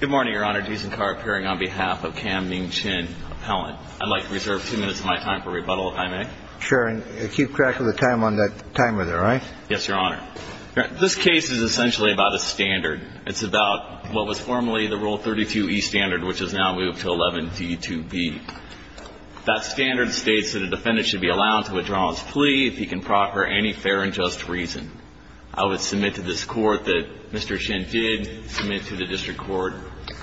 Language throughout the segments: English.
Good morning, Your Honor. Jason Carr appearing on behalf of Kam Ming Chin Appellant. I'd like to reserve two minutes of my time for rebuttal, if I may. Sure. And keep track of the time on that timer there, all right? Yes, Your Honor. This case is essentially about a standard. It's about what was formerly the Rule 32e standard, which has now moved to 11d2b. That standard states that a defendant should be allowed to withdraw his plea if he can proffer any fair and just reason. I would submit to this Court that Mr. Chin did submit to the District Court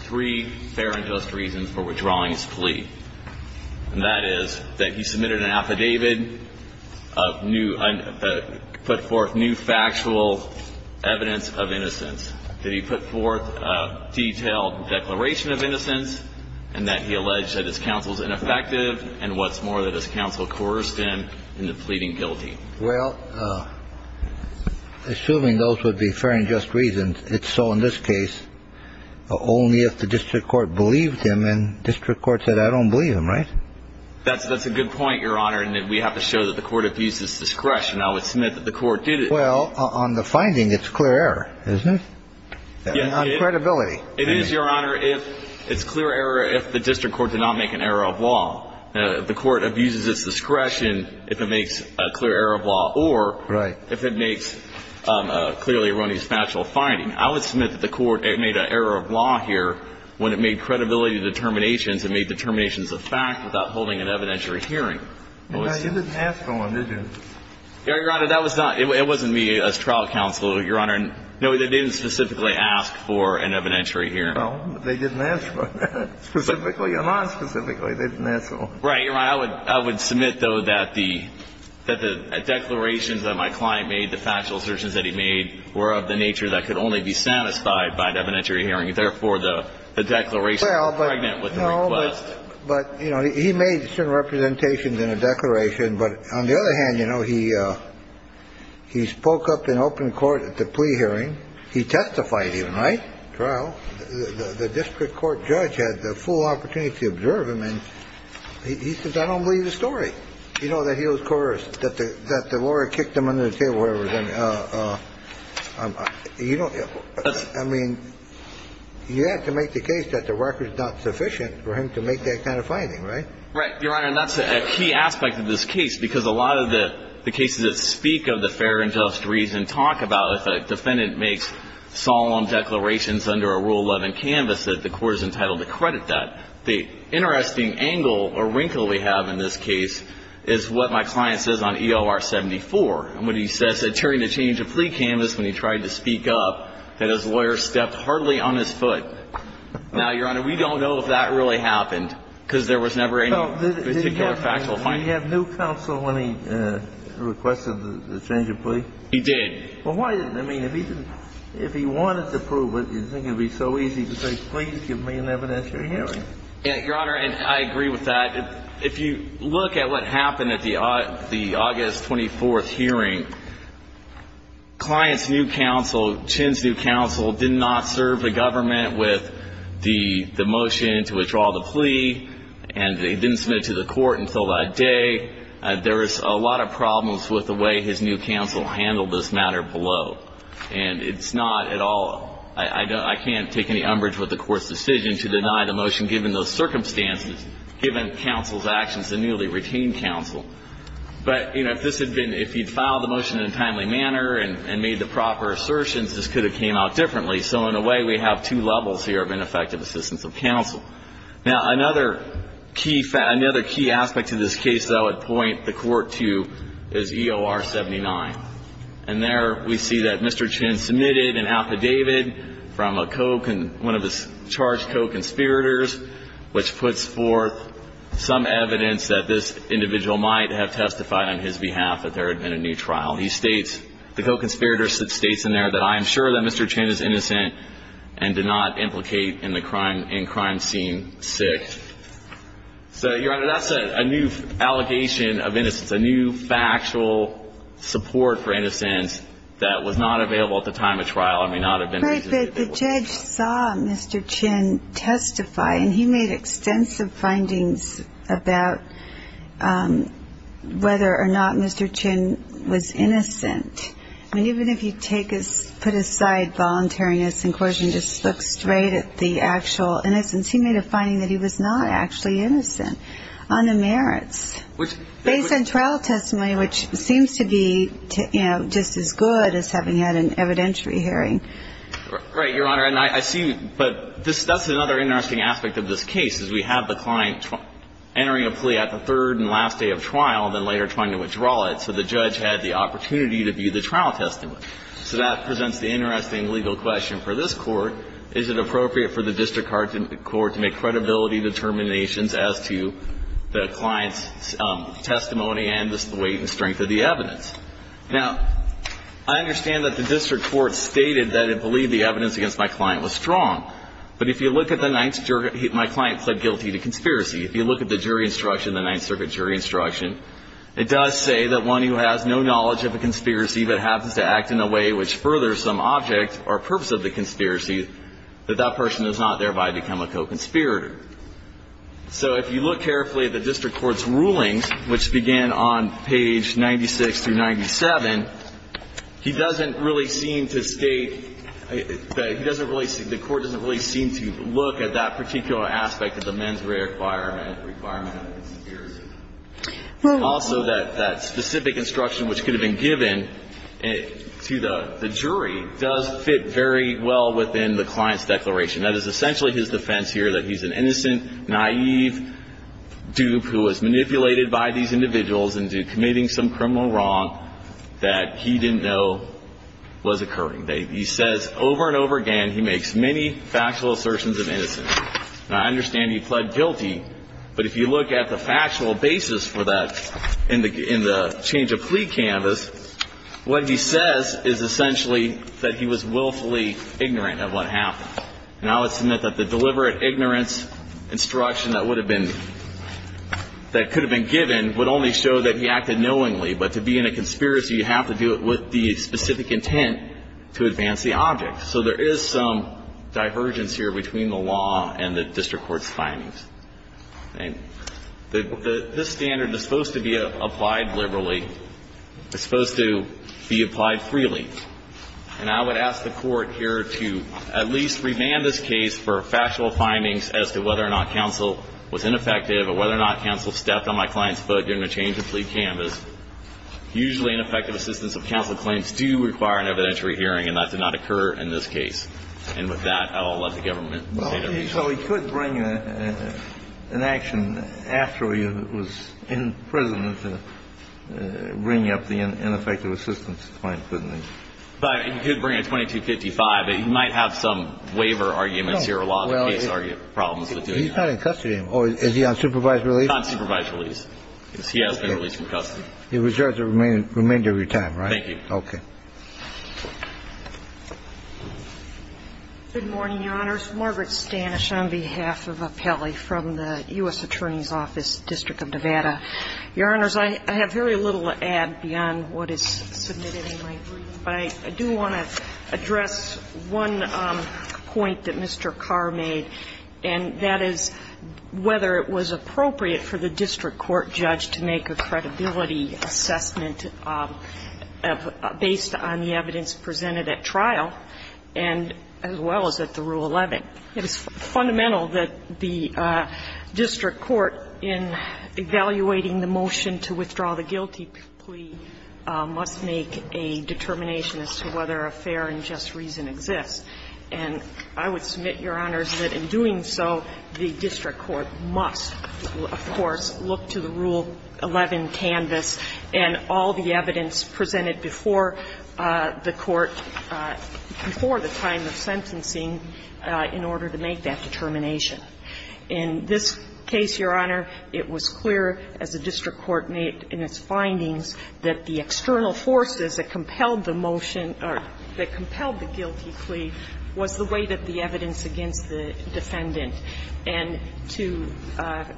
three fair and just reasons for withdrawing his plea, and that is that he submitted an affidavit of new – put forth new factual evidence of innocence, that he put forth a detailed declaration of innocence, and that he alleged that his counsel is ineffective, and what's more, that his counsel coerced him into pleading guilty. Well, assuming those would be fair and just reasons, it's so in this case, only if the District Court believed him, and District Court said, I don't believe him, right? That's a good point, Your Honor, in that we have to show that the Court abuses discretion. I would submit that the Court did it. Well, on the finding, it's clear error, isn't it? On credibility. It is, Your Honor. It's clear error if the District Court did not make an error of law. The Court abuses its discretion if it makes a clear error of law or if it makes a clearly erroneous factual finding. I would submit that the Court made an error of law here when it made credibility determinations and made determinations of fact without holding an evidentiary hearing. You didn't ask for one, did you? Your Honor, that was not – it wasn't me as trial counsel, Your Honor. No, they didn't specifically ask for an evidentiary hearing. Well, they didn't ask for it, specifically or nonspecifically. They didn't ask for it. Right, Your Honor. I would submit, though, that the declarations that my client made, the factual assertions that he made, were of the nature that could only be satisfied by an evidentiary hearing. Therefore, the declaration was pregnant with the request. Well, but, you know, he made certain representations in a declaration. But on the other hand, you know, he spoke up in open court at the plea hearing. He testified even, right? He testified in a trial. The district court judge had the full opportunity to observe him. And he said, I don't believe the story, you know, that he was coerced, that the lawyer kicked him under the table or whatever. You don't – I mean, you have to make the case that the record is not sufficient for him to make that kind of finding, right? Right, Your Honor. And that's a key aspect of this case, because a lot of the cases that speak of the fair and just reason talk about if a defendant makes solemn declarations under a Rule 11 canvas, that the court is entitled to credit that. The interesting angle or wrinkle we have in this case is what my client says on EOR 74, when he says that during the change of plea canvas, when he tried to speak up, that his lawyer stepped hardly on his foot. Now, Your Honor, we don't know if that really happened, because there was never any particular factual finding. Did he have new counsel when he requested the change of plea? He did. Well, why – I mean, if he didn't – if he wanted to prove it, do you think it would be so easy to say, please give me an evidentiary hearing? Yeah, Your Honor, and I agree with that. If you look at what happened at the August 24th hearing, clients' new counsel – Chin's new counsel did not serve the government with the motion to withdraw the plea, and they didn't submit it to the court until that day. There was a lot of problems with the way his new counsel handled this matter below. And it's not at all – I can't take any umbrage with the court's decision to deny the motion given those circumstances, given counsel's actions to newly retain counsel. But, you know, if this had been – if he'd filed the motion in a timely manner and made the proper assertions, this could have came out differently. So in a way, we have two levels here of ineffective assistance of counsel. Now, another key – another key aspect to this case that I would point the court to is EOR 79. And there we see that Mr. Chin submitted an affidavit from a – one of his charged co-conspirators, which puts forth some evidence that this individual might have testified on his behalf that there had been a new trial. He states – the co-conspirator states in there that, I am sure that Mr. Chin is innocent and did not implicate in the crime – in crime scene 6. So, Your Honor, that's a new allegation of innocence. A new factual support for innocence that was not available at the time of trial and may not have been – But the judge saw Mr. Chin testify. And he made extensive findings about whether or not Mr. Chin was innocent. I mean, even if you take his – put aside voluntariness and coercion, just look straight at the actual innocence. He made a finding that he was not actually innocent on the merits, based on trial testimony, which seems to be, you know, just as good as having had an evidentiary hearing. Right, Your Honor. And I see – but this – that's another interesting aspect of this case, is we have the client entering a plea at the third and last day of trial, then later trying to withdraw it. So the judge had the opportunity to view the trial testimony. So that presents the interesting legal question for this Court. Is it appropriate for the district court to make credibility determinations as to the client's testimony and the weight and strength of the evidence? Now, I understand that the district court stated that it believed the evidence against my client was strong. But if you look at the Ninth – my client pled guilty to conspiracy. If you look at the jury instruction, the Ninth Circuit jury instruction, it does say that one who has no knowledge of a conspiracy but happens to act in a way which furthers some object or purpose of the conspiracy, that that person does not thereby become a co-conspirator. So if you look carefully at the district court's rulings, which began on page 96 through 97, he doesn't really seem to state – he doesn't really – the court doesn't really seem to look at that particular aspect of the mens rea requirement, requirement of a conspiracy. Also, that specific instruction which could have been given to the jury does fit very well within the client's declaration. That is essentially his defense here, that he's an innocent, naive dupe who was manipulated by these individuals into committing some criminal wrong that he didn't know was occurring. He says over and over again he makes many factual assertions of innocence. Now, I understand he pled guilty, but if you look at the factual basis for that in the change of plea canvas, what he says is essentially that he was willfully ignorant of what happened. And I would submit that the deliberate ignorance instruction that would have been – that could have been given would only show that he acted knowingly. But to be in a conspiracy, you have to do it with the specific intent to advance the object. So there is some divergence here between the law and the district court's findings. This standard is supposed to be applied liberally. It's supposed to be applied freely. And I would ask the Court here to at least remand this case for factual findings as to whether or not counsel was ineffective or whether or not counsel stepped on my client's foot during the change of plea canvas. Usually, ineffective assistance of counsel claims do require an evidentiary hearing, and that did not occur in this case. And with that, I'll let the government say their piece. So he could bring an action after he was in prison to bring up the ineffective assistance claim, couldn't he? He could bring a 2255. He might have some waiver arguments here, a lot of case arguments, problems with doing that. He's not in custody. Is he on supervised release? He's not on supervised release. Yes, he has been released from custody. He was charged with remand every time, right? Thank you. Okay. Good morning, Your Honors. Margaret Stanish on behalf of Appelli from the U.S. Attorney's Office, District of Nevada. Your Honors, I have very little to add beyond what is submitted in my brief, but I do want to address one point that Mr. Carr made, and that is whether it was appropriate for the district court judge to make a credibility assessment based on the evidence presented at trial and as well as at the Rule 11. It is fundamental that the district court, in evaluating the motion to withdraw the guilty plea, must make a determination as to whether a fair and just reason exists. And I would submit, Your Honors, that in doing so, the district court must, of course, look to the Rule 11 canvas and all the evidence presented before the court, before the time of sentencing, in order to make that determination. In this case, Your Honor, it was clear, as the district court made in its findings, that the external forces that compelled the motion or that compelled the guilty plea was the weight of the evidence against the defendant. And to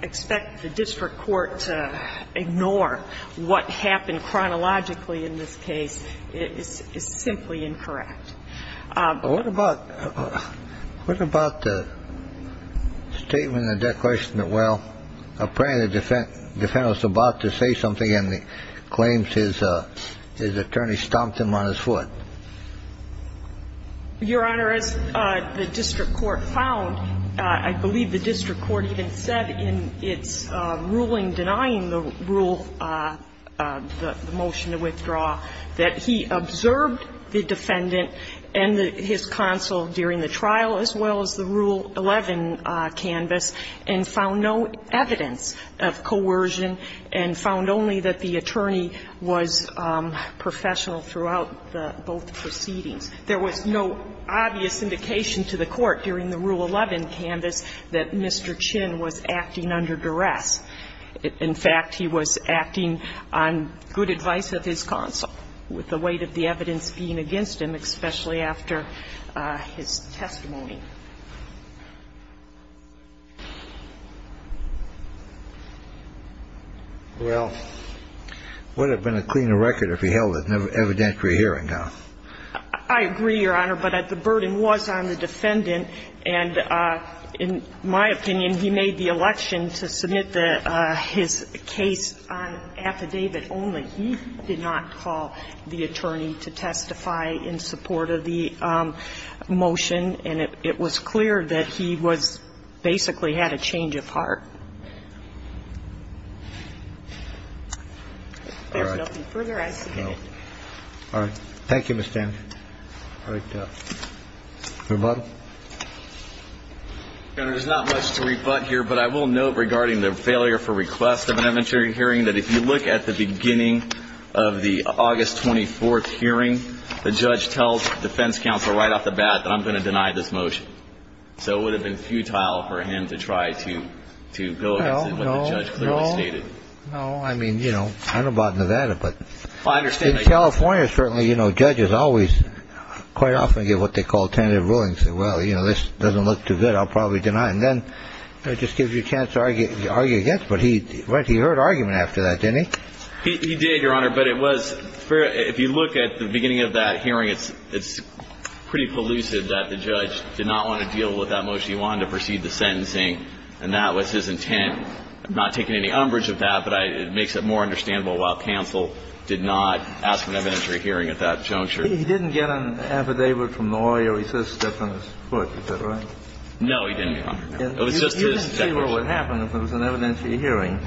expect the district court to ignore what happened chronologically in this case is simply incorrect. What about the statement in the declaration that, well, apparently the defendant was about to say something and he claims his attorney stomped him on his foot? Your Honor, as the district court found, I believe the district court even said in its ruling denying the rule, the motion to withdraw, that he observed the defendant and his counsel during the trial as well as the Rule 11 canvas and found no evidence of coercion and found only that the attorney was professional throughout both proceedings. There was no obvious indication to the court during the Rule 11 canvas that Mr. Chin was acting under duress. In fact, he was acting on good advice of his counsel, with the weight of the evidence being against him, especially after his testimony. Well, it would have been a cleaner record if he held an evidentiary hearing now. I agree, Your Honor, but the burden was on the defendant. And in my opinion, he made the election to submit his case on affidavit only. He did not call the attorney to testify in support of the motion. And it was clear that he was basically had a change of heart. If there's nothing further, I submit it. All right. Thank you, Ms. Dan. All right. Mr. Butler. Your Honor, there's not much to rebut here, but I will note regarding the failure for request of an evidentiary hearing that if you look at the beginning of the August 24th hearing, the judge tells defense counsel right off the bat that I'm going to deny this motion. So it would have been futile for him to try to go against what the judge clearly stated. No, I mean, you know, I don't know about Nevada, but in California, certainly, you know, judges always quite often give what they call tentative rulings. They say, well, you know, this doesn't look too good. I'll probably deny it. And then it just gives you a chance to argue against. But he heard argument after that, didn't he? He did, Your Honor. But it was fair. If you look at the beginning of that hearing, it's pretty elusive that the judge did not want to deal with that motion. He wanted to proceed the sentencing, and that was his intent. I'm not taking any umbrage of that, but it makes it more understandable why counsel did not ask for an evidentiary hearing at that juncture. He didn't get an affidavit from the lawyer. He said step on his foot. Is that right? No, Your Honor. No, he didn't, Your Honor. It was just his definition. You didn't say what would happen if there was an evidentiary hearing.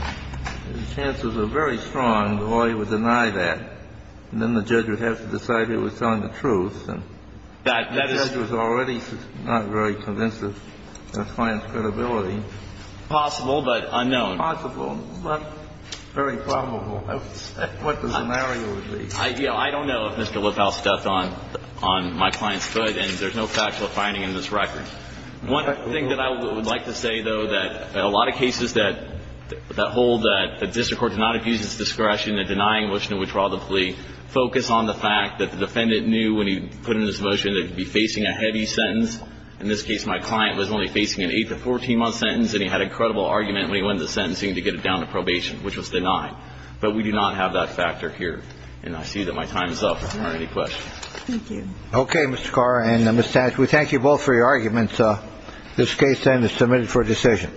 The chances are very strong the lawyer would deny that, and then the judge would have to decide who was telling the truth, and the judge was already not very convinced of the client's credibility. Possible, but unknown. Possible, but very probable. What the scenario would be. I don't know if Mr. Lippau stepped on my client's foot, and there's no factual finding in this record. One thing that I would like to say, though, that a lot of cases that hold that the district court does not abuse its discretion in denying a motion to withdraw the plea focus on the fact that the defendant knew when he put in his motion that he'd be facing a heavy sentence. In this case, my client was only facing an 8- to 14-month sentence, and he had a credible argument when he went into sentencing to get it down to probation, which was denied. But we do not have that factor here, and I see that my time is up if there are any questions. Thank you. Okay, Mr. Carr and Ms. Sands, we thank you both for your arguments. This case, then, is submitted for decision.